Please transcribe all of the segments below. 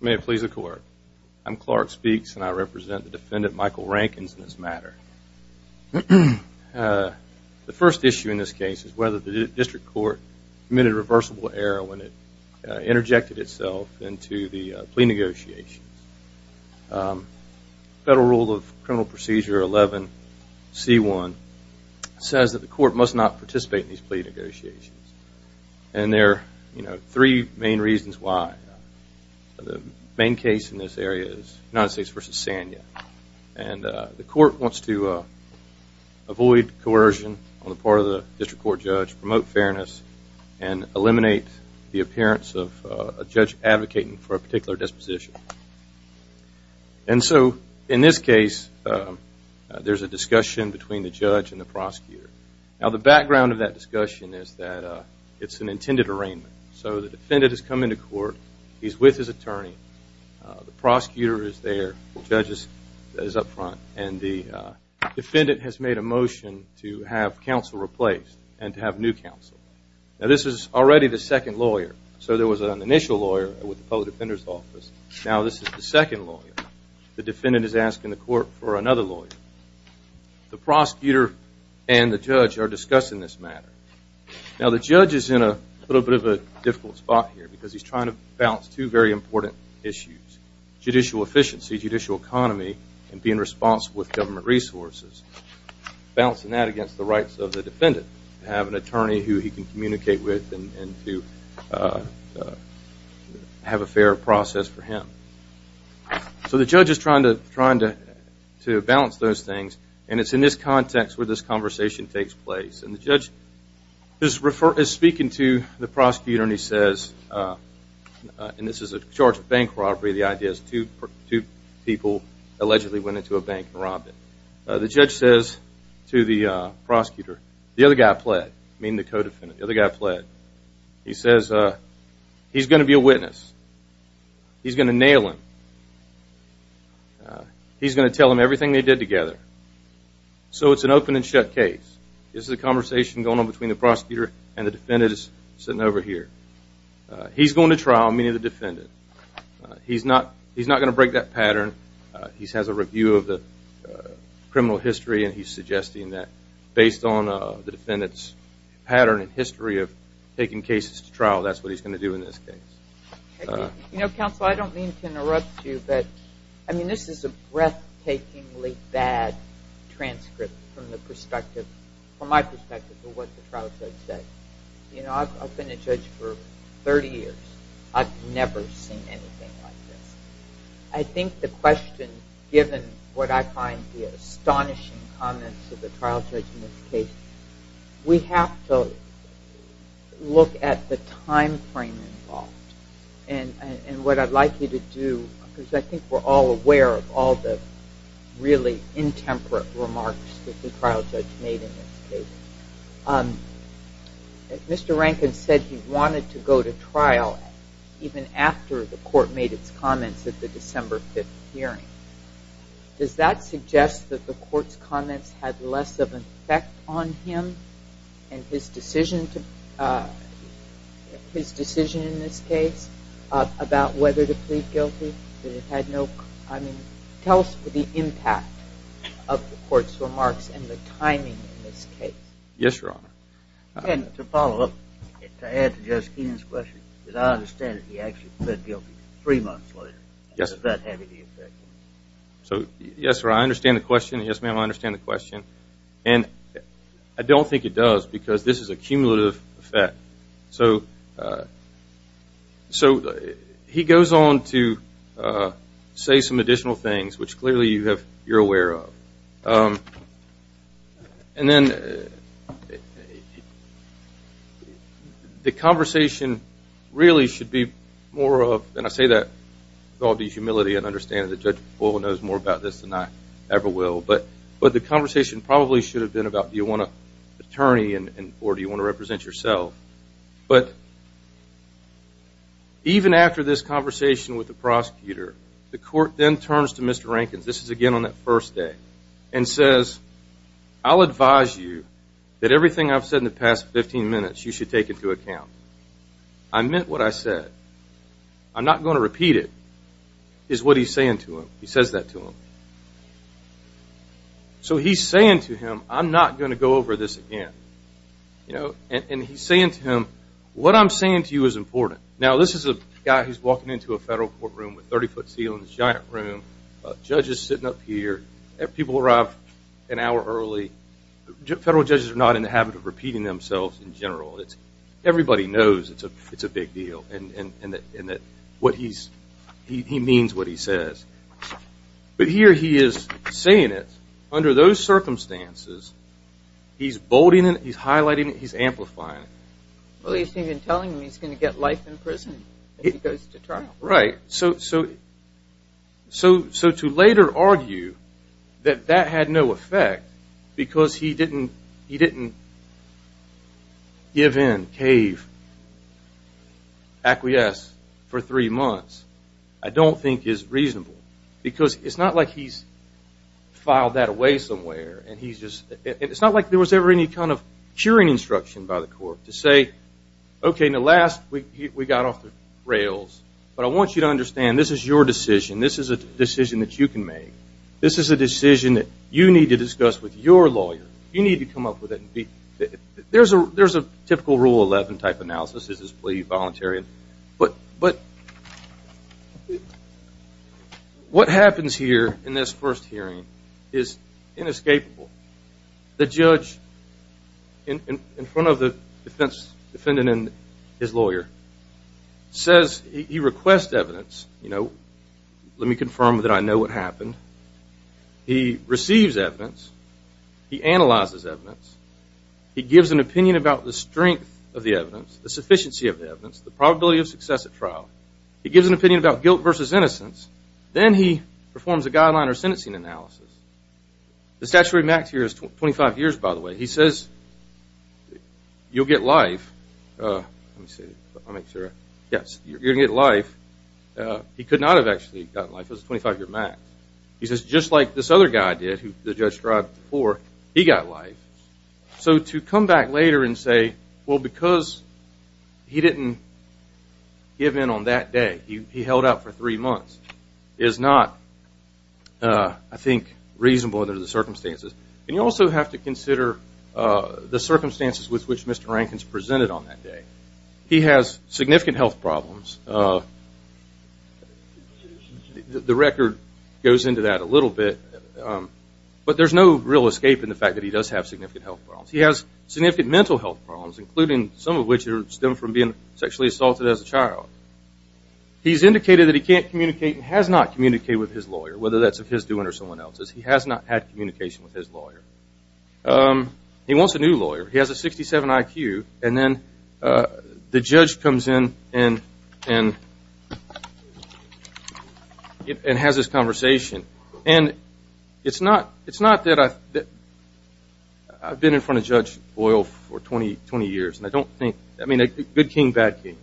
May it please the court. I'm Clark Speaks and I represent the defendant Michael Rankins in this matter. The first issue in this case is whether the district court committed a reversible error when it interjected itself into the plea negotiations. Federal Rule of Criminal Procedure 11C1 says that the court must not participate in these plea negotiations. And there are three main reasons why. The main case in this area is United States v. Sanya. And the court wants to avoid coercion on the part of the district court judge, promote fairness, and eliminate the appearance of a judge advocating for a particular disposition. And so in this case there's a discussion between the judge and the prosecutor. Now the background of that discussion is that it's an intended arraignment. So the defendant has come into court. He's with his attorney. The prosecutor is there. The judge is up front. And the defendant has made a motion to have counsel replaced and to have new counsel. Now this is already the second lawyer. So there was an initial lawyer with the public defender's office. Now this is the second lawyer. The defendant is asking the court for another lawyer. The judge is in a little bit of a difficult spot here because he's trying to balance two very important issues. Judicial efficiency, judicial economy, and being responsible with government resources. Balancing that against the rights of the defendant to have an attorney who he can communicate with and to have a fair process for him. So the judge is trying to balance those things. And it's in this context where this conversation takes place. And the judge is speaking to the prosecutor and he says, and this is a charge of bank robbery. The idea is two people allegedly went into a bank and robbed it. The judge says to the prosecutor, the other guy pled. Meaning the co-defendant. The other guy pled. He says he's going to be a witness. He's going to nail him. He's going to tell him everything they did together. So it's an open and shut case. This is a conversation going on between the prosecutor and the defendants sitting over here. He's going to trial, meaning the defendant. He's not going to break that pattern. He has a review of the criminal history and he's suggesting that based on the defendant's pattern and history of taking cases to trial, that's what he's going to do in this case. You know, counsel, I don't mean to interrupt you, but I mean, this is a breathtakingly bad transcript from my perspective of what the trial judge said. You know, I've been a judge for 30 years. I've never seen anything like this. I think the question, given what I find the astonishing comments of the trial judge in this case, we have to look at the time frame involved. And what I'd like you to do, because I think we're all aware of all the really intemperate remarks that the trial judge made in this case. Mr. Rankin said he wanted to go to trial even after the court made its comments at the December 5th hearing. Does that suggest that the court's comments had less of an effect on him and his decision in this case about whether to plead guilty? Tell us the impact of the court's remarks and the timing in this case. Yes, Your Honor. And to follow up, to add to Judge Keenan's question, because I understand that he actually pled guilty three months later. Does that have any effect? So, yes, Your Honor, I understand the question. Yes, ma'am, I understand the question. And I don't think it does, because this is a cumulative effect. So he goes on to say some additional things, which clearly you're aware of. And then the conversation really should be more of, and I say that with all due humility and understanding that Judge Papola knows more about this than I ever will, but the conversation probably should have been about do you want an attorney or do you want to represent yourself. But even after this conversation with the prosecutor, the court then turns to Mr. Rankin, this is again on that first day, and says, I'll advise you that everything I've said in the past 15 minutes you should take into account. I meant what I said. I'm not going to repeat it, is what he's saying to him. He says that to him. So he's saying to him, I'm not going to go over this again. And he's saying to him, what I'm saying to you is important. Now, this is a guy who's walking into a federal courtroom with 30-foot ceilings, giant room, judges sitting up here, people arrive an hour early. Federal judges are not in the habit of repeating themselves in general. Everybody knows it's a big deal and that what he's, he means what he says. But here he is saying it, under those circumstances, he's bolding it, he's highlighting it, he's amplifying it. Well, he's even telling him he's going to get life in prison if he goes to trial. Right. So to later argue that that had no effect because he didn't, he didn't give in, cave, acquiesce for three months, I don't think is reasonable. Because it's not like he's filed that away somewhere and he's just, it's not like there was ever any kind of curing instruction by the court to say, okay, in the last, we got off the rails, but I want you to understand this is your decision. This is a decision that you can make. This is a decision that you need to discuss with your lawyer. You need to come up with it. There's a typical Rule 11 type analysis, is this plea voluntary. But what happens here in this first hearing is inescapable. The judge in front of the defense, defendant and his lawyer, says he requests evidence, you know, let me confirm that I know what happened. He receives evidence. He analyzes evidence. He gives an opinion about the strength of the evidence, the sufficiency of the evidence, the probability of success at trial. He gives an opinion about guilt versus innocence. Then he performs a guideline or sentencing analysis. The statutory max here is 25 years, by the way. He says, you'll get life, let me see, I'll make sure, yes, you'll get life. He could not have actually gotten life. It was a 25 year max. He says, just like this other guy did, who the judge tried before, he got life. So to come back later and say, well, because he didn't give in on that day, he held out for three months, is not, I think, reasonable under the circumstances. And you also have to consider the circumstances with which Mr. Rankin is presented on that day. He has significant health problems. The record goes into that a little bit. But there's no real escape in the fact that he does have significant health problems. He has significant mental health problems, including some of which stem from being sexually assaulted as a child. He's indicated that he can't communicate and has not communicated with his lawyer, whether that's of his doing or someone else's. He has not had communication with his lawyer. He wants a new lawyer. He has a 67 IQ. And then the judge comes in and has this conversation. And it's not that I've been in front of Judge Boyle for 20 years. And I don't think, I mean, good king, bad king,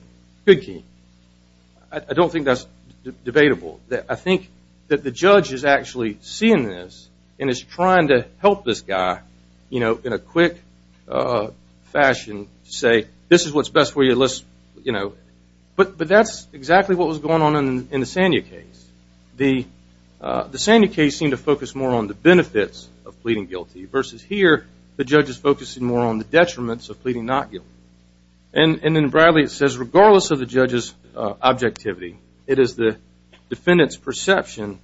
good king. I don't think that's debatable. I think that the judge is actually seeing this and is trying to help this guy in a quick fashion to say, this is what's best for you. But that's exactly what was going on in the Sanya case. The Sanya case seemed to focus more on the benefits of pleading guilty versus here, the judge is focusing more on the detriments of pleading not guilty. And in Bradley, it says, regardless of the judge's objectivity, it is the defendant's perception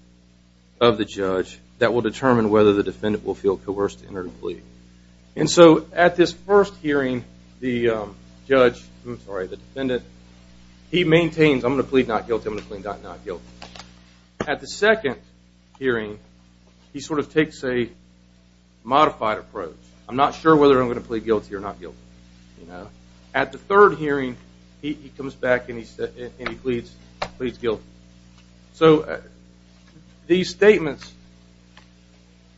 of the judge that will determine whether the defendant will feel coerced to enter to plead. And so at this first hearing, the judge, I'm sorry, the defendant, he maintains, I'm going to plead not guilty, I'm going to plead not guilty. At the second hearing, he sort of takes a modified approach. I'm not sure whether I'm going to plead guilty or not guilty. At the third hearing, he comes back and he pleads guilty. So these statements,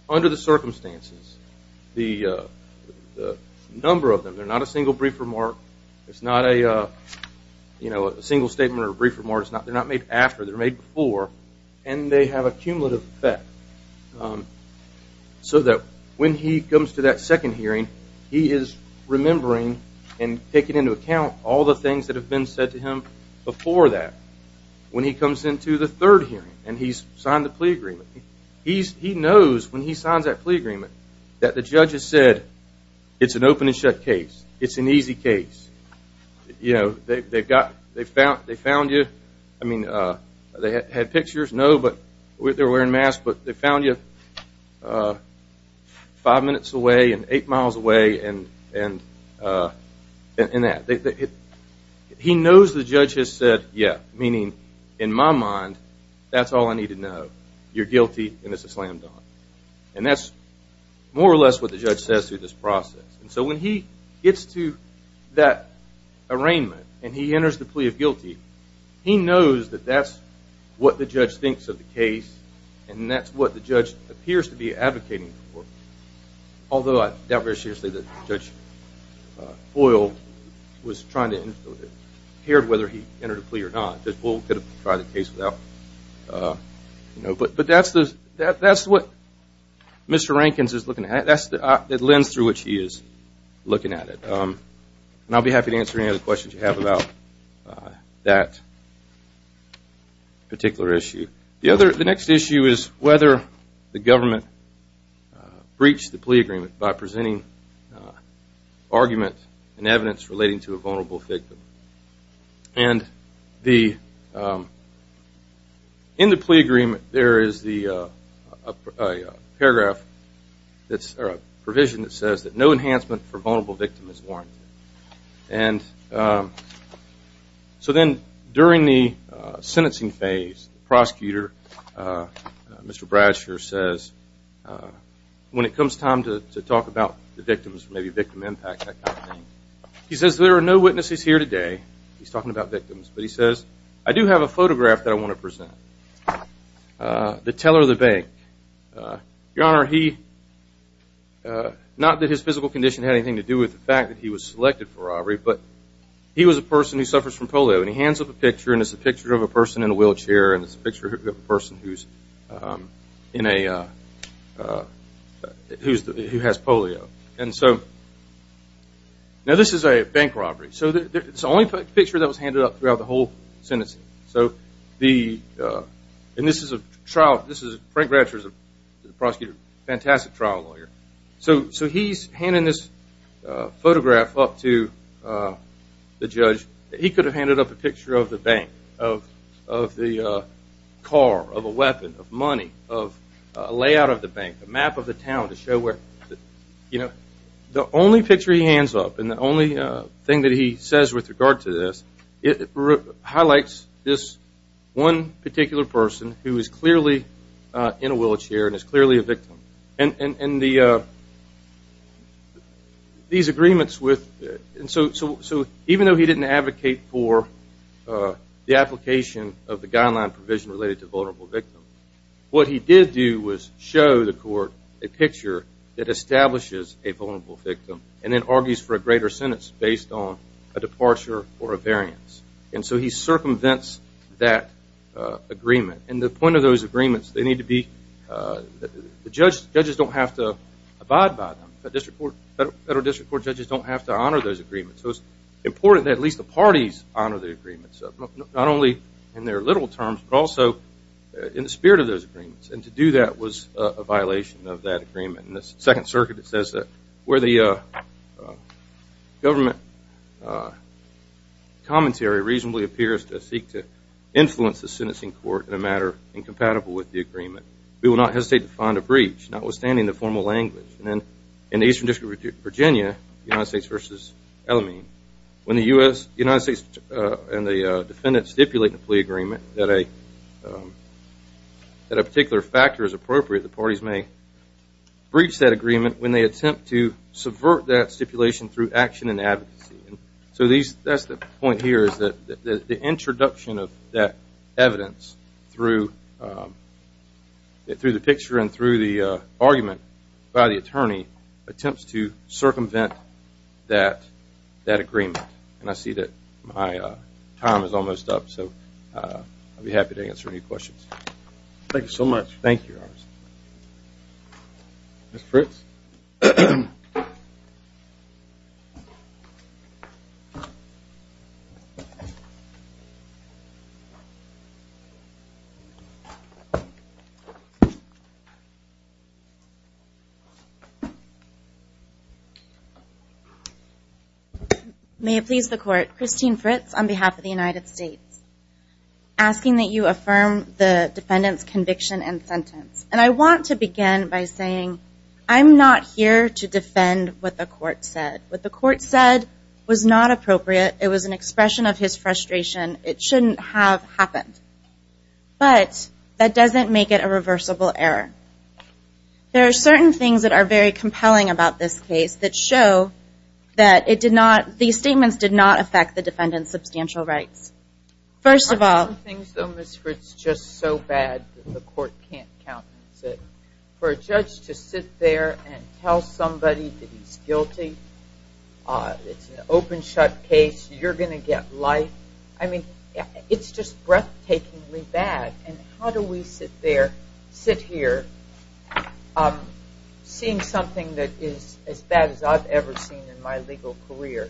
under the circumstances, the number of them, they're not a single brief remark, it's not a single statement or brief remark, they're not made after, they're made before, and they have a cumulative effect. So that when he comes to that second hearing, he is remembering and taking into account all the things that have been said to him before that. When he comes into the third hearing and he's signed the plea agreement, he knows when he signs that plea agreement that the judge has said, it's an open and shut case, it's an easy case. You know, they found you, I mean, they had pictures, no, but they're wearing masks, but they found you five minutes away and eight miles away and that. He knows the judge has said, yeah, meaning, in my mind, that's all I need to know. You're guilty and it's a slam dunk. And that's more or less what the judge says through this process. And so when he gets to that arraignment and he enters the case, that's what the judge thinks of the case and that's what the judge appears to be advocating for. Although I doubt very seriously that Judge Boyle was trying to, it appeared whether he entered a plea or not. Judge Boyle could have tried the case without, you know, but that's what Mr. Rankins is looking at. That's the lens through which he is looking at it. And I'll be happy to answer any other questions you have about that particular issue. The next issue is whether the government breached the plea agreement by presenting argument and evidence relating to a vulnerable victim. And in the plea agreement, there is a paragraph that's a provision that says that no enhancement for vulnerable victim is warranted. And so then during the sentencing phase, the prosecutor, Mr. Bradsher, says when it comes time to talk about the victims, maybe victim impact, that kind of thing, he says there are no witnesses here today. He's talking about victims. But he says, I do have a photograph that I want to present. The teller of the bank. Your Honor, he, not that his physical condition had anything to do with the fact that he was selected for robbery, but he was a person who suffers from polio. And he hands up a picture and it's a picture of a person in a wheelchair and it's a picture of a person who's in a, who has polio. And so, now this is a bank robbery. So it's the only picture that was handed up throughout the whole sentencing. So the, and this is a trial, this is, Frank Bradsher is a prosecutor, fantastic trial lawyer. So he's handing this photograph up to the judge. He could have handed up a picture of the bank, of the car, of a weapon, of money, of a layout of the bank, a map of the town to show where, you know, the only picture he hands up and the only thing that he says with regard to this, it highlights this one particular person who is clearly in a wheelchair and is clearly a victim. And the, these agreements with, so even though he didn't advocate for the application of the guideline provision related to vulnerable victims, what he did do was show the court a picture that establishes a vulnerable victim and then argues for a greater sentence based on a departure or a variance. And so he circumvents that agreement. And the point of those agreements, they need to be, the judge, judges don't have to abide by them. Federal District Court judges don't have to honor those agreements. So it's important that at least the parties honor the agreements, not only in their literal terms but also in the spirit of those agreements. And to do that was a violation of that agreement. In the Second Circuit it says that where the government commentary reasonably appears to influence the sentencing court in a matter incompatible with the agreement, we will not hesitate to find a breach, notwithstanding the formal language. And then in the Eastern District of Virginia, United States v. Ellamine, when the U.S., United States and the defendant stipulate in the plea agreement that a particular factor is appropriate, the parties may breach that agreement when they attempt to subvert that stipulation through action and advocacy. So that's the point here is that the introduction of that evidence through the picture and through the argument by the attorney attempts to circumvent that agreement. And I see that my time is almost up, so I'll be happy to answer any questions. Thank you so much. Thank you, Your Honor. Ms. Fritz. May it please the Court, Christine Fritz on behalf of the United States, asking that you and I want to begin by saying I'm not here to defend what the Court said. What the Court said was not appropriate. It was an expression of his frustration. It shouldn't have happened. But that doesn't make it a reversible error. There are certain things that are very compelling about this case that show that these statements did not affect the defendant's substantial rights. There are certain things, Ms. Fritz, just so bad that the Court can't countenance it. For a judge to sit there and tell somebody that he's guilty, it's an open-shut case, you're going to get life. I mean, it's just breathtakingly bad. And how do we sit there, sit here, seeing something that is as bad as I've ever seen in my legal career,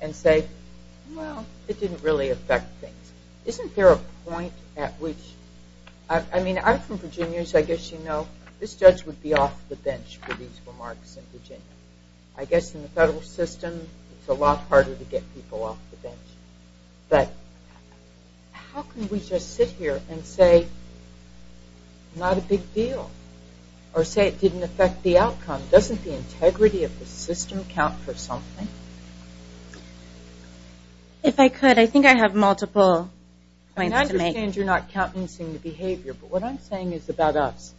and say, well, it didn't really affect things. Isn't there a point at which, I mean, I'm from Virginia, so I guess you know, this judge would be off the bench for these remarks in Virginia. I guess in the federal system, it's a lot harder to get people off the bench. But how can we just sit here and say, not a big deal, or say it didn't affect the outcome? Doesn't the integrity of the system count for something? If I could, I think I have multiple points to make. And I understand you're not countenancing the behavior, but what I'm saying is about us.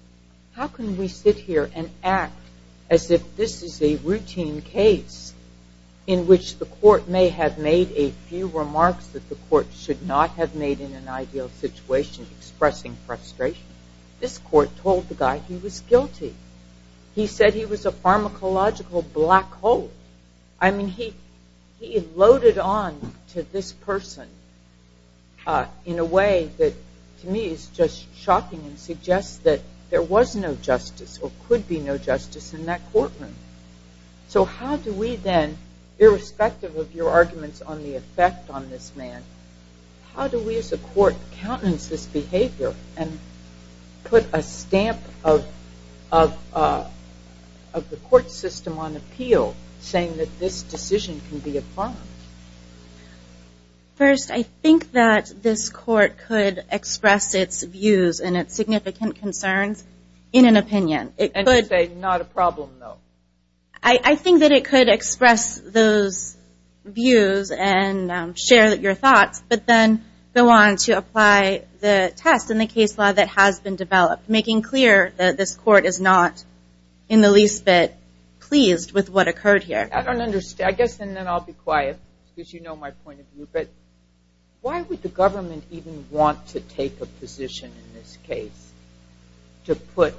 How can we sit here and act as if this is a routine case in which the Court may have made a few remarks that the Court should not have made in an ideal situation, expressing frustration. This Court told the guy he was guilty. He said he was a pharmacological black hole. I mean, he loaded on to this person in a way that to me is just shocking and suggests that there was no justice or could be no justice in that courtroom. So how do we then, irrespective of your arguments on the effect on this man, how do we as a court put a stamp of the Court system on appeal saying that this decision can be affirmed? First, I think that this Court could express its views and its significant concerns in an opinion. And say, not a problem, though. I think that it could express those views and share your thoughts, but then go on to apply the test and the case law that has been developed, making clear that this Court is not in the least bit pleased with what occurred here. I don't understand. I guess then I'll be quiet, because you know my point of view. Why would the government even want to take a position in this case to put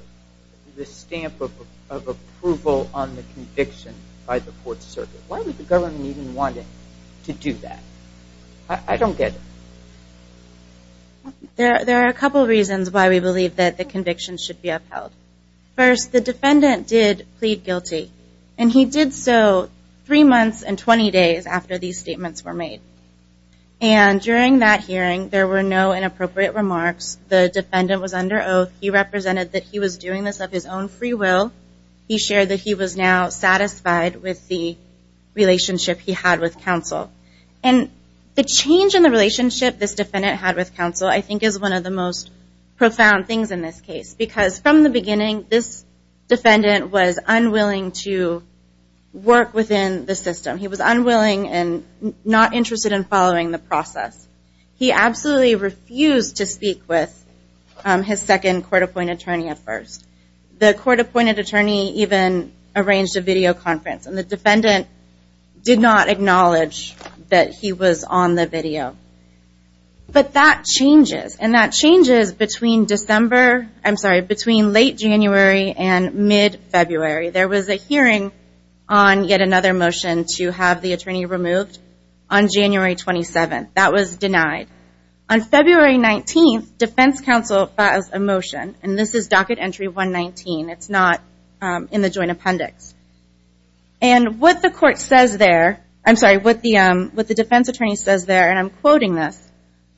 the stamp of approval on the conviction by the Court Circuit? Why would the government even want to do that? I don't get it. There are a couple of reasons why we believe that the conviction should be upheld. First, the defendant did plead guilty, and he did so three months and 20 days after these statements were made. And during that hearing, there were no inappropriate remarks. The defendant was under oath. He represented that he was doing this of his own free will. He shared that he was now satisfied with the relationship he had with counsel. And the change in the relationship this defendant had with counsel I think is one of the most profound things in this case, because from the beginning, this defendant was unwilling to work within the system. He was unwilling and not interested in following the process. He absolutely refused to speak with his second court-appointed attorney at first. The court-appointed attorney even arranged a video conference, and the defendant did not acknowledge that he was on the video. But that changes, and that changes between late January and mid-February. There was a hearing on yet another motion to have the attorney removed on January 27th. That was denied. On February 19th, defense counsel passed a motion, and this is Docket Entry 119. It's not in the Joint Appendix. And what the defense attorney says there, and I'm quoting this,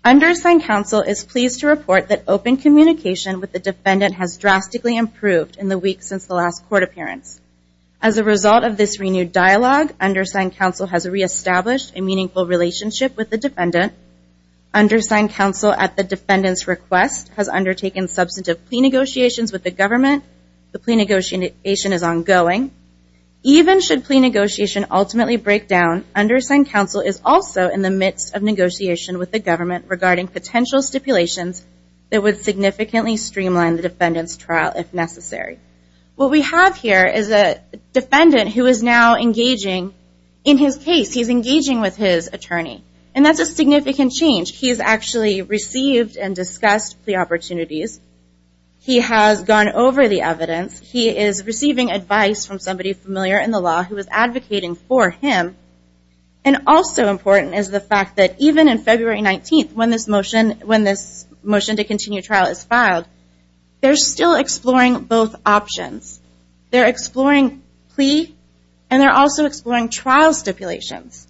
undersigned counsel is pleased to report that open communication with the defendant has drastically improved in the weeks since the last court appearance. As a result of this renewed dialogue, undersigned counsel has reestablished a meaningful relationship with the defendant. Undersigned counsel, at the defendant's request, has undertaken substantive plea negotiations with the government. The plea negotiation is ongoing. Even should plea negotiation ultimately break down, undersigned counsel is also in the midst of negotiation with the government regarding potential stipulations that would significantly streamline the defendant's trial if necessary. What we have here is a defendant who is now engaging in his case. He's engaging with his attorney, and that's a significant change. He's actually received and discussed plea opportunities. He has gone over the evidence. He is receiving advice from somebody familiar in the law who is advocating for him. And also important is the fact that even in February 19th, when this motion to continue trial is filed, they're still exploring both options. They're exploring plea, and they're also exploring trial stipulations.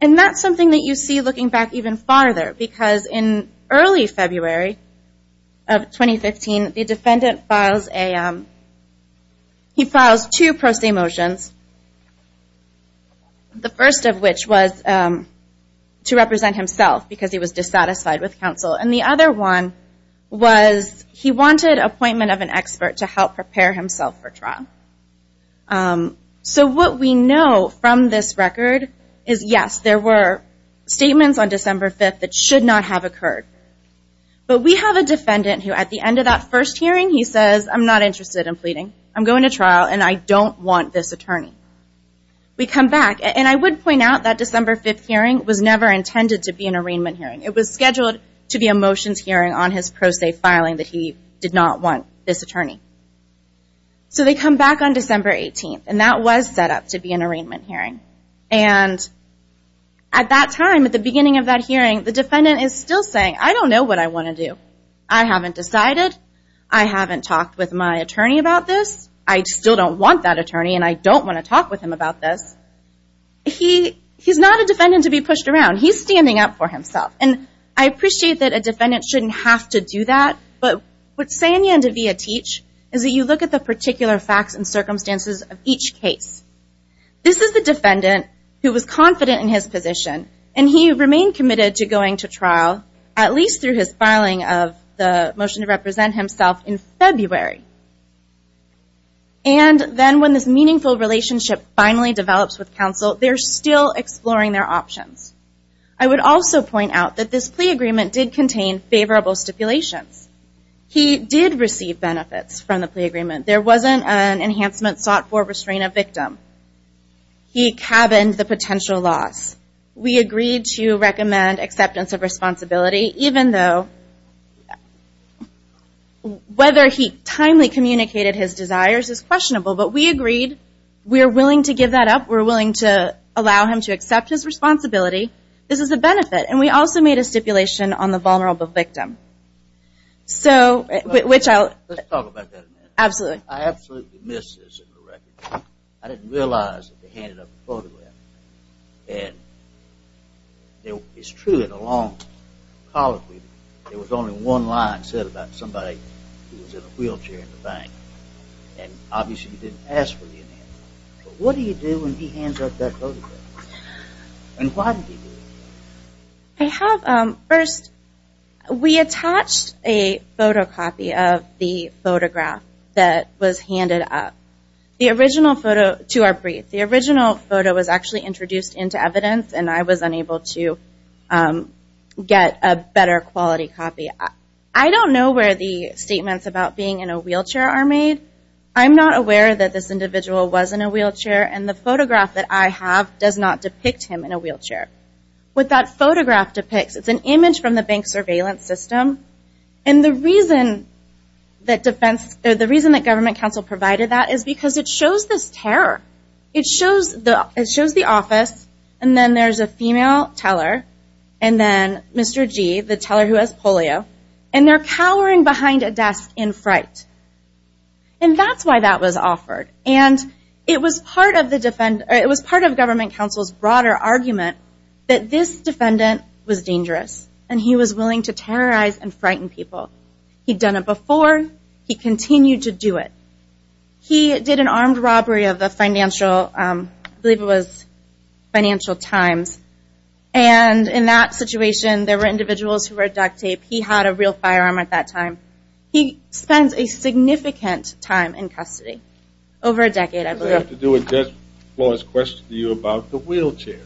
And that's something that you see looking back even farther, because in early February of 2015, the defendant files two pro se motions, the first of which was to represent himself because he was dissatisfied with counsel, and the other one was he wanted appointment of an expert to help prepare himself for trial. So what we know from this record is yes, there were statements on December 5th that should not have occurred. But we have a defendant who at the end of that first hearing, he says, I'm not interested in pleading. I'm going to trial, and I don't want this attorney. We come back, and I would point out that December 5th hearing was never intended to be an arraignment hearing. It was scheduled to be a motions hearing on his pro se filing that he did not want this attorney. So they come back on December 18th, and that was set up to be an arraignment hearing. And at that time, at the beginning of that hearing, the defendant is still saying, I don't know what I want to do. I haven't decided. I haven't talked with my attorney about this. I still don't want that attorney, and I don't want to talk with him about this. He's not a defendant to be pushed around. He's standing up for himself. And I appreciate that a defendant shouldn't have to do that, but what Sanya and Davia teach is that you look at the particular facts and circumstances of each case. This is the defendant who was confident in his position, and he remained committed to going to trial, at least through his filing of the motion to represent himself in February. And then when this meaningful relationship finally develops with counsel, they're still exploring their options. I would also point out that this plea agreement did contain favorable stipulations. He did receive benefits from the plea agreement. There wasn't an enhancement sought for restraint of victim. He cabined the potential loss. We agreed to recommend acceptance of responsibility, even though whether he timely communicated his desires is questionable. But we agreed. We're willing to give that up. We're willing to allow him to accept his responsibility. This is a benefit. And we also made a stipulation on the vulnerable victim. So, which I'll... Let's talk about that a minute. Absolutely. I absolutely missed this in the record. I didn't realize that they handed up a photograph. And it's true in a long colloquy, there was only one line said about somebody who was in a wheelchair in the bank. And obviously you didn't ask for the email. But what do you do when he hands up that photograph? And why did he do it? I have... First, we attached a photocopy of the photograph that was handed up. The original photo... To our brief. The original photo was actually introduced into evidence. And I was unable to get a better quality copy. I don't know where the statements about being in a wheelchair are made. I'm not aware that this individual was in a wheelchair. And the photograph that I have does not depict him in a wheelchair. What that photograph depicts, it's an image from the bank surveillance system. And the reason that defense... The reason that government counsel provided that is because it shows this terror. It shows the office. And then there's a female teller. And then Mr. G, the teller who has polio. And they're cowering behind a desk in fright. And that's why that was offered. And it was part of government counsel's broader argument that this defendant was dangerous. And he was willing to terrorize and frighten people. He'd done it before. He continued to do it. He did an armed robbery of the Financial... I believe it was Financial Times. And in that situation, there were individuals who were duct taped. He had a real firearm at that time. He spends a significant time in custody. Over a decade, I believe. I have to do with Judge Flores' question to you about the wheelchair.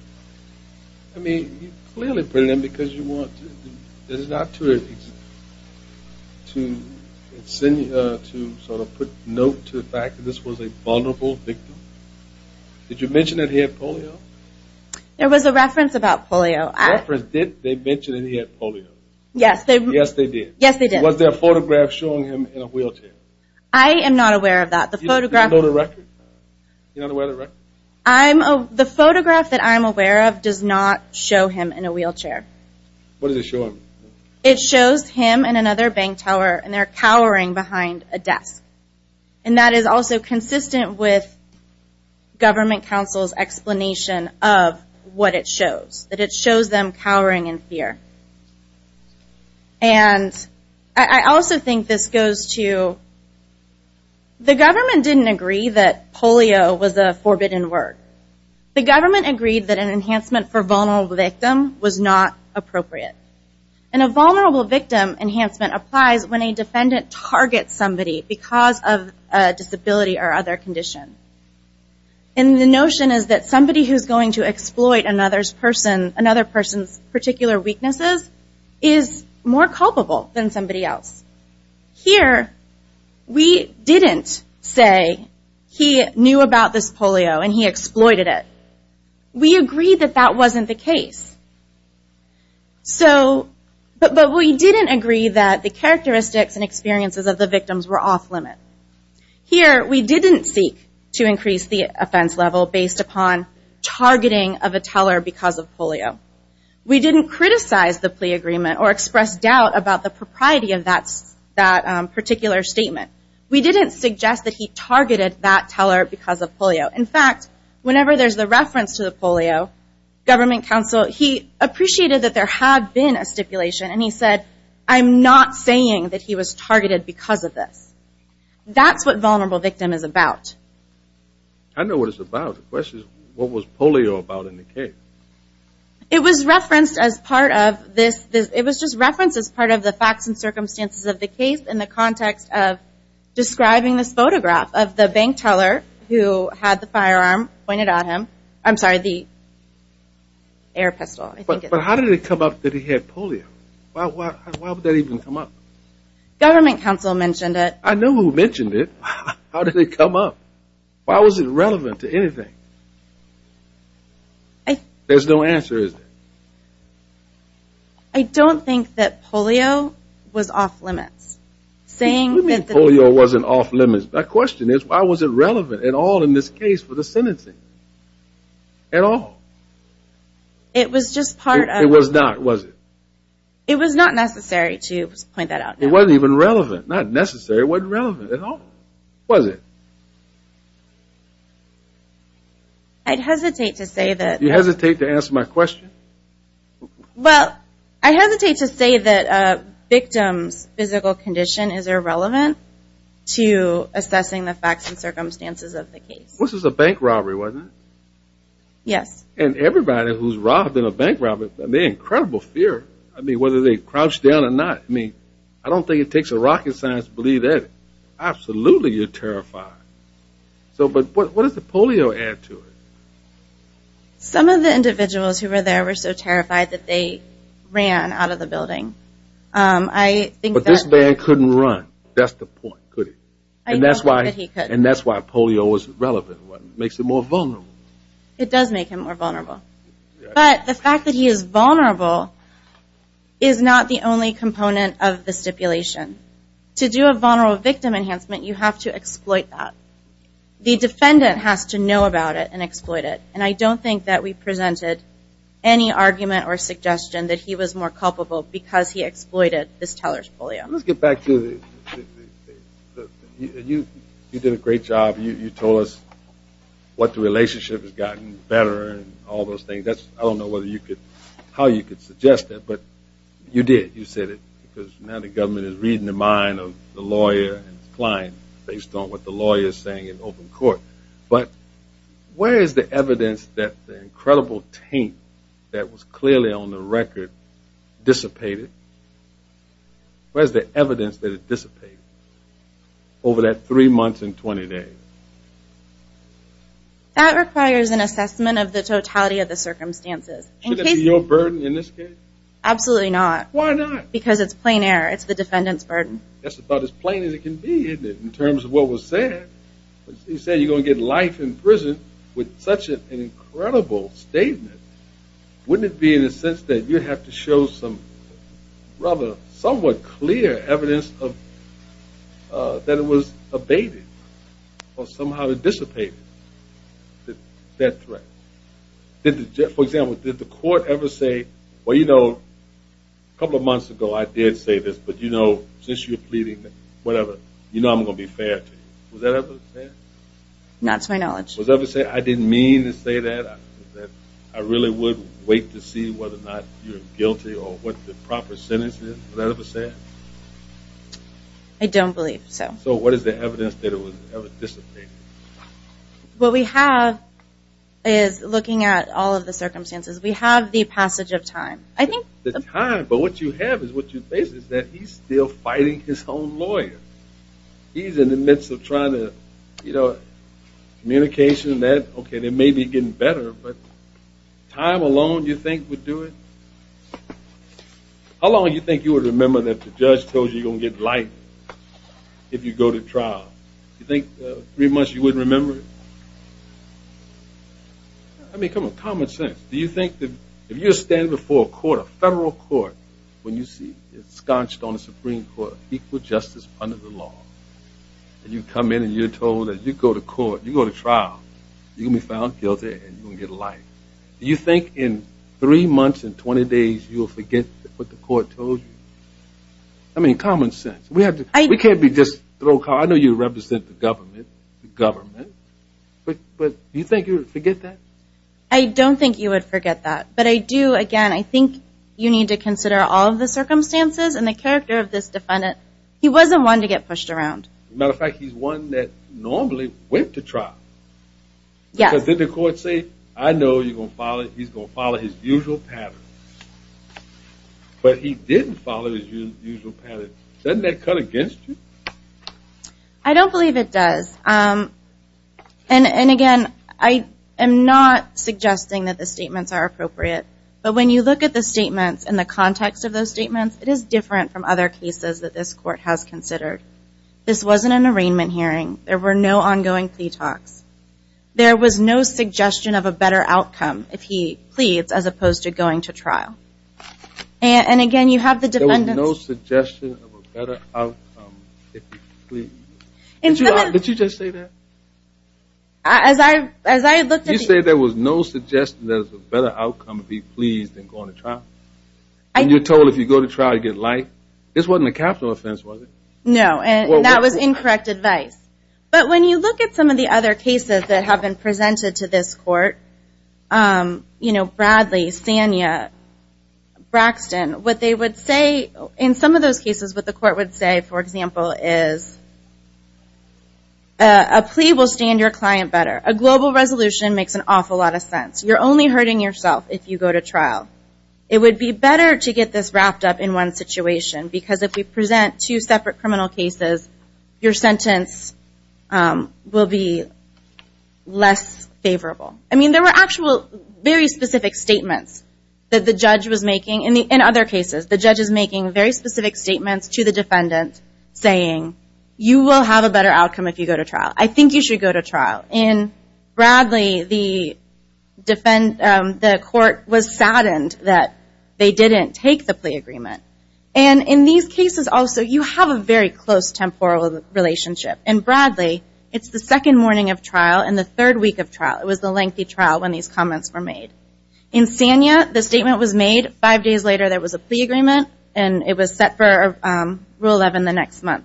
I mean, you clearly put it in because you want to. This is not to insinuate or to sort of put note to the fact that this was a vulnerable victim. Did you mention that he had polio? There was a reference about polio. They mentioned that he had polio. Yes, they did. Was there a photograph showing him in a wheelchair? I am not aware of that. Do you know the record? The photograph that I'm aware of does not show him in a wheelchair. What does it show him? It shows him and another bank teller, and they're cowering behind a desk. And that is also consistent with government counsel's explanation of what it shows. That it shows them cowering in fear. And I also think this goes to the government didn't agree that polio was a forbidden word. The government agreed that an enhancement for vulnerable victim was not appropriate. And a vulnerable victim enhancement applies when a defendant targets somebody because of a disability or other condition. And the notion is that somebody who is going to exploit another person's particular weaknesses is more culpable than somebody else. Here, we didn't say he knew about this polio and he exploited it. We agreed that that wasn't the case. But we didn't agree that the characteristics and experiences of the victims were off limit. Here, we didn't seek to increase the offense level based upon targeting of a teller because of polio. We didn't criticize the plea agreement or express doubt about the propriety of that particular statement. We didn't suggest that he targeted that teller because of polio. In fact, whenever there's a reference to the polio, government counsel, he appreciated that there had been a stipulation and he said, I'm not saying that he was targeted because of this. That's what vulnerable victim is about. I know what it's about. The question is, what was polio about in the case? It was referenced as part of this. It was just referenced as part of the facts and circumstances of the case in the context of describing this photograph of the bank teller who had the firearm pointed at him. I'm sorry, the air pistol. But how did it come up that he had polio? Why would that even come up? Government counsel mentioned it. I know who mentioned it. How did it come up? Why was it relevant to anything? There's no answer, is there? I don't think that polio was off limits. What do you mean polio wasn't off limits? My question is, why was it relevant at all in this case for the sentencing at all? It was just part of. It was not, was it? It was not necessary to point that out. It wasn't even relevant. Not necessary. It wasn't relevant at all, was it? I'd hesitate to say that. You hesitate to answer my question? Well, I hesitate to say that a victim's physical condition is irrelevant to assessing the facts and circumstances of the case. This was a bank robbery, wasn't it? Yes. And everybody who's robbed in a bank robbery, they have incredible fear. I mean, whether they crouch down or not. I mean, I don't think it takes a rocket scientist to believe that. Absolutely, you're terrified. But what does the polio add to it? Some of the individuals who were there were so terrified that they ran out of the building. But this man couldn't run. That's the point, could he? And that's why polio was relevant. It makes him more vulnerable. It does make him more vulnerable. But the fact that he is vulnerable is not the only component of the stipulation. To do a vulnerable victim enhancement, you have to exploit that. The defendant has to know about it and exploit it. And I don't think that we presented any argument or suggestion that he was more culpable because he exploited this teller's polio. Let's get back to the you did a great job. You told us what the relationship has gotten better and all those things. I don't know how you could suggest that, but you did. You said it because now the government is reading the mind of the lawyer and his client based on what the lawyer is saying in open court. But where is the evidence that the incredible taint that was clearly on the record dissipated? Where is the evidence that it dissipated? Over that three months and 20 days. That requires an assessment of the totality of the circumstances. Should that be your burden in this case? Absolutely not. Why not? Because it's plain error. It's the defendant's burden. That's about as plain as it can be, isn't it, in terms of what was said? You said you're going to get life in prison with such an incredible statement. Wouldn't it be in a sense that you'd have to show some rather somewhat clear evidence that it was abated or somehow dissipated, that threat? For example, did the court ever say, well, you know, a couple of months ago I did say this, but, you know, since you're pleading whatever, you know I'm going to be fair to you. Was that ever said? Not to my knowledge. Was that ever said? I didn't mean to say that. I really would wait to see whether or not you're guilty or what the proper sentence is. Was that ever said? I don't believe so. So what is the evidence that it was ever dissipated? What we have is looking at all of the circumstances. We have the passage of time. The time, but what you have is what you face is that he's still fighting his own lawyer. He's in the midst of trying to, you know, communication and that. Okay, they may be getting better, but time alone do you think would do it? How long do you think you would remember that the judge told you you're going to get life if you go to trial? Do you think three months you wouldn't remember it? I mean, come on, common sense. Do you think that if you're standing before a court, a federal court, when you see it scotched on a Supreme Court, equal justice under the law, and you come in and you're told that you go to court, you go to trial, you're going to be found guilty and you're going to get life, do you think in three months and 20 days you'll forget what the court told you? I mean, common sense. We can't be just throw cards. I know you represent the government, but do you think you would forget that? I don't think you would forget that. But I do, again, I think you need to consider all of the circumstances and the character of this defendant. He wasn't one to get pushed around. As a matter of fact, he's one that normally went to trial. Because did the court say, I know he's going to follow his usual pattern? But he didn't follow his usual pattern. Doesn't that cut against you? I don't believe it does. And, again, I am not suggesting that the statements are appropriate, but when you look at the statements and the context of those statements, it is different from other cases that this court has considered. This wasn't an arraignment hearing. There were no ongoing plea talks. There was no suggestion of a better outcome if he pleads as opposed to going to trial. And, again, you have the defendants. There was no suggestion of a better outcome if he pleads. Did you just say that? As I looked at these. You said there was no suggestion that there was a better outcome if he pleads than going to trial. And you're told if you go to trial, you get life. This wasn't a capital offense, was it? No, and that was incorrect advice. But when you look at some of the other cases that have been presented to this court, you know, Bradley, Sanya, Braxton, what they would say in some of those cases, what the court would say, for example, is a plea will stand your client better. A global resolution makes an awful lot of sense. You're only hurting yourself if you go to trial. It would be better to get this wrapped up in one situation because if we present two separate criminal cases, your sentence will be less favorable. I mean, there were actual very specific statements that the judge was making. In other cases, the judge is making very specific statements to the defendant saying, you will have a better outcome if you go to trial. I think you should go to trial. In Bradley, the court was saddened that they didn't take the plea agreement. And in these cases also, you have a very close temporal relationship. In Bradley, it's the second morning of trial and the third week of trial. It was the lengthy trial when these comments were made. In Sanya, the statement was made five days later there was a plea agreement, and it was set for Rule 11 the next month.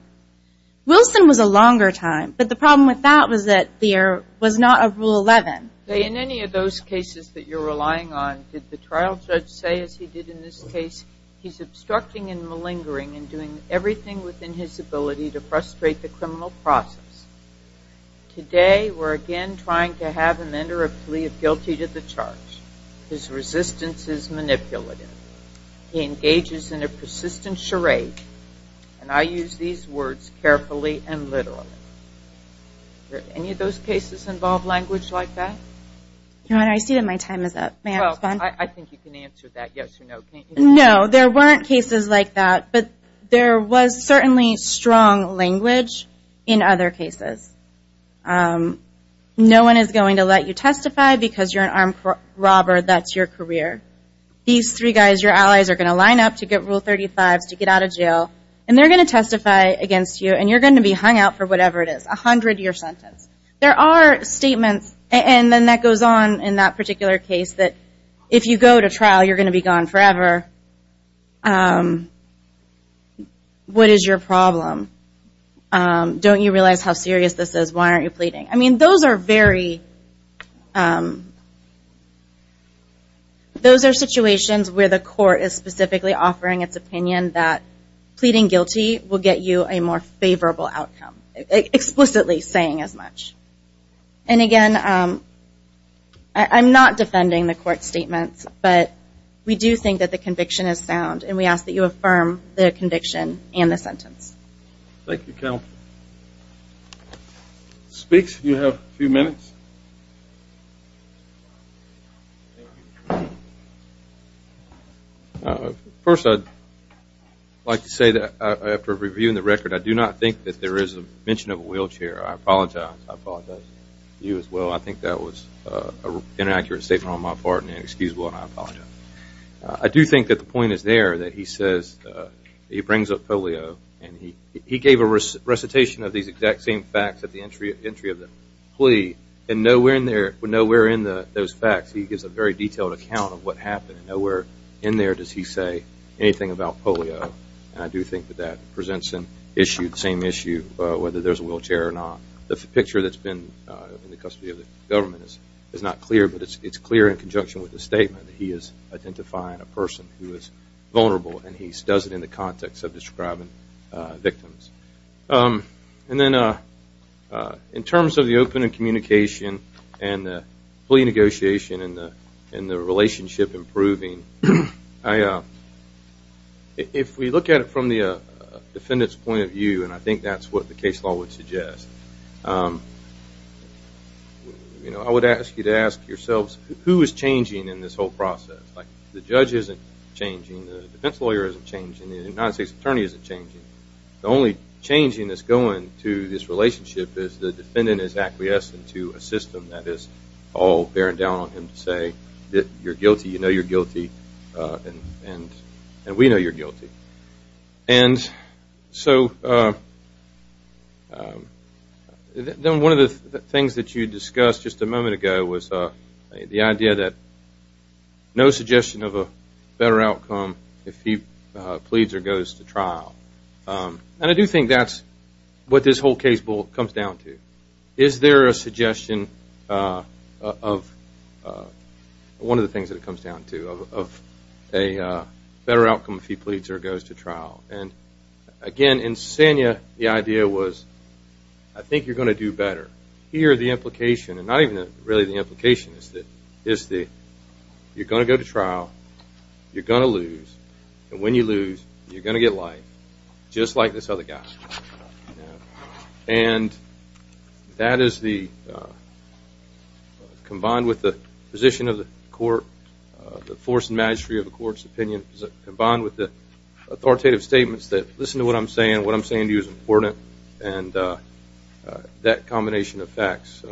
Wilson was a longer time, but the problem with that was that there was not a Rule 11. In any of those cases that you're relying on, did the trial judge say, as he did in this case, he's obstructing and malingering and doing everything within his ability to frustrate the criminal process? Today, we're again trying to have a mender of plea of guilty to the charge. His resistance is manipulative. He engages in a persistent charade. And I use these words carefully and literally. Did any of those cases involve language like that? Your Honor, I see that my time is up. May I respond? I think you can answer that yes or no. No, there weren't cases like that, but there was certainly strong language in other cases. No one is going to let you testify because you're an armed robber. That's your career. These three guys, your allies, are going to line up to get Rule 35s to get out of jail, and they're going to testify against you, and you're going to be hung out for whatever it is, a hundred-year sentence. There are statements, and then that goes on in that particular case, that if you go to trial, you're going to be gone forever. What is your problem? Don't you realize how serious this is? Why aren't you pleading? I mean, those are situations where the court is specifically offering its opinion that pleading guilty will get you a more favorable outcome, explicitly saying as much. And again, I'm not defending the court statements, but we do think that the conviction is sound, and we ask that you affirm the conviction and the sentence. Thank you, Carol. Speaks, you have a few minutes. First, I'd like to say that after reviewing the record, I do not think that there is a mention of a wheelchair. I apologize. I apologize to you as well. I think that was an inaccurate statement on my part and inexcusable, and I apologize. I do think that the point is there, that he says he brings up polio, and he gave a recitation of these exact same facts at the entry of the plea, and nowhere in those facts he gives a very detailed account of what happened. Nowhere in there does he say anything about polio, and I do think that that presents an issue, whether there's a wheelchair or not. The picture that's been in the custody of the government is not clear, but it's clear in conjunction with the statement that he is identifying a person who is vulnerable, and he does it in the context of describing victims. And then in terms of the open communication and the plea negotiation and the relationship improving, if we look at it from the defendant's point of view, and I think that's what the case law would suggest, I would ask you to ask yourselves who is changing in this whole process. The judge isn't changing. The defense lawyer isn't changing. The United States attorney isn't changing. The only changing that's going to this relationship is the defendant is acquiescing to a system that is all bearing down on him to say that you're guilty, you know you're guilty, and we know you're guilty. And so then one of the things that you discussed just a moment ago was the idea that no suggestion of a better outcome if he pleads or goes to trial. And I do think that's what this whole case comes down to. Is there a suggestion of one of the things that it comes down to, of a better outcome if he pleads or goes to trial? And, again, in Sanya, the idea was I think you're going to do better. Here the implication, and not even really the implication, is that you're going to go to trial, you're going to lose, and when you lose, you're going to get life, just like this other guy. And that is the, combined with the position of the court, the force and magistry of the court's opinion, combined with the authoritative statements that listen to what I'm saying, what I'm saying to you is important, and that combination of facts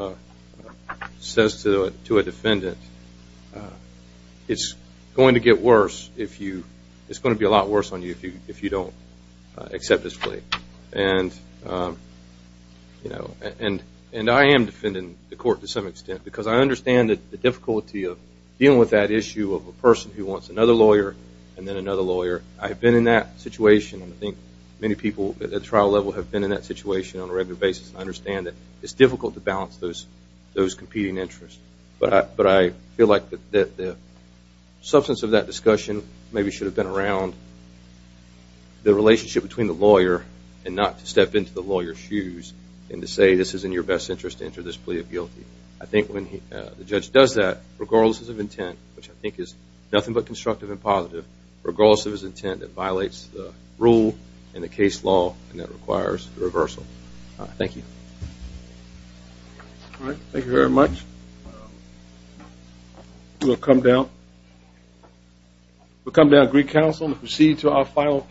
says to a defendant it's going to get worse if you, it's going to be a lot worse on you if you don't accept his plea. And I am defending the court to some extent because I understand the difficulty of dealing with that issue of a person who wants another lawyer and then another lawyer. I have been in that situation, and I think many people at the trial level have been in that situation on a regular basis, and I understand that it's difficult to balance those competing interests. But I feel like the substance of that discussion maybe should have been around the relationship between the lawyer and not to step into the lawyer's shoes and to say this is in your best interest to enter this plea of guilty. I think when the judge does that, regardless of intent, which I think is nothing but constructive and positive, regardless of his intent, it violates the rule and the case law, and that requires a reversal. Thank you. All right. Thank you very much. We'll come down. We'll come down to Greek Council and proceed to our final case.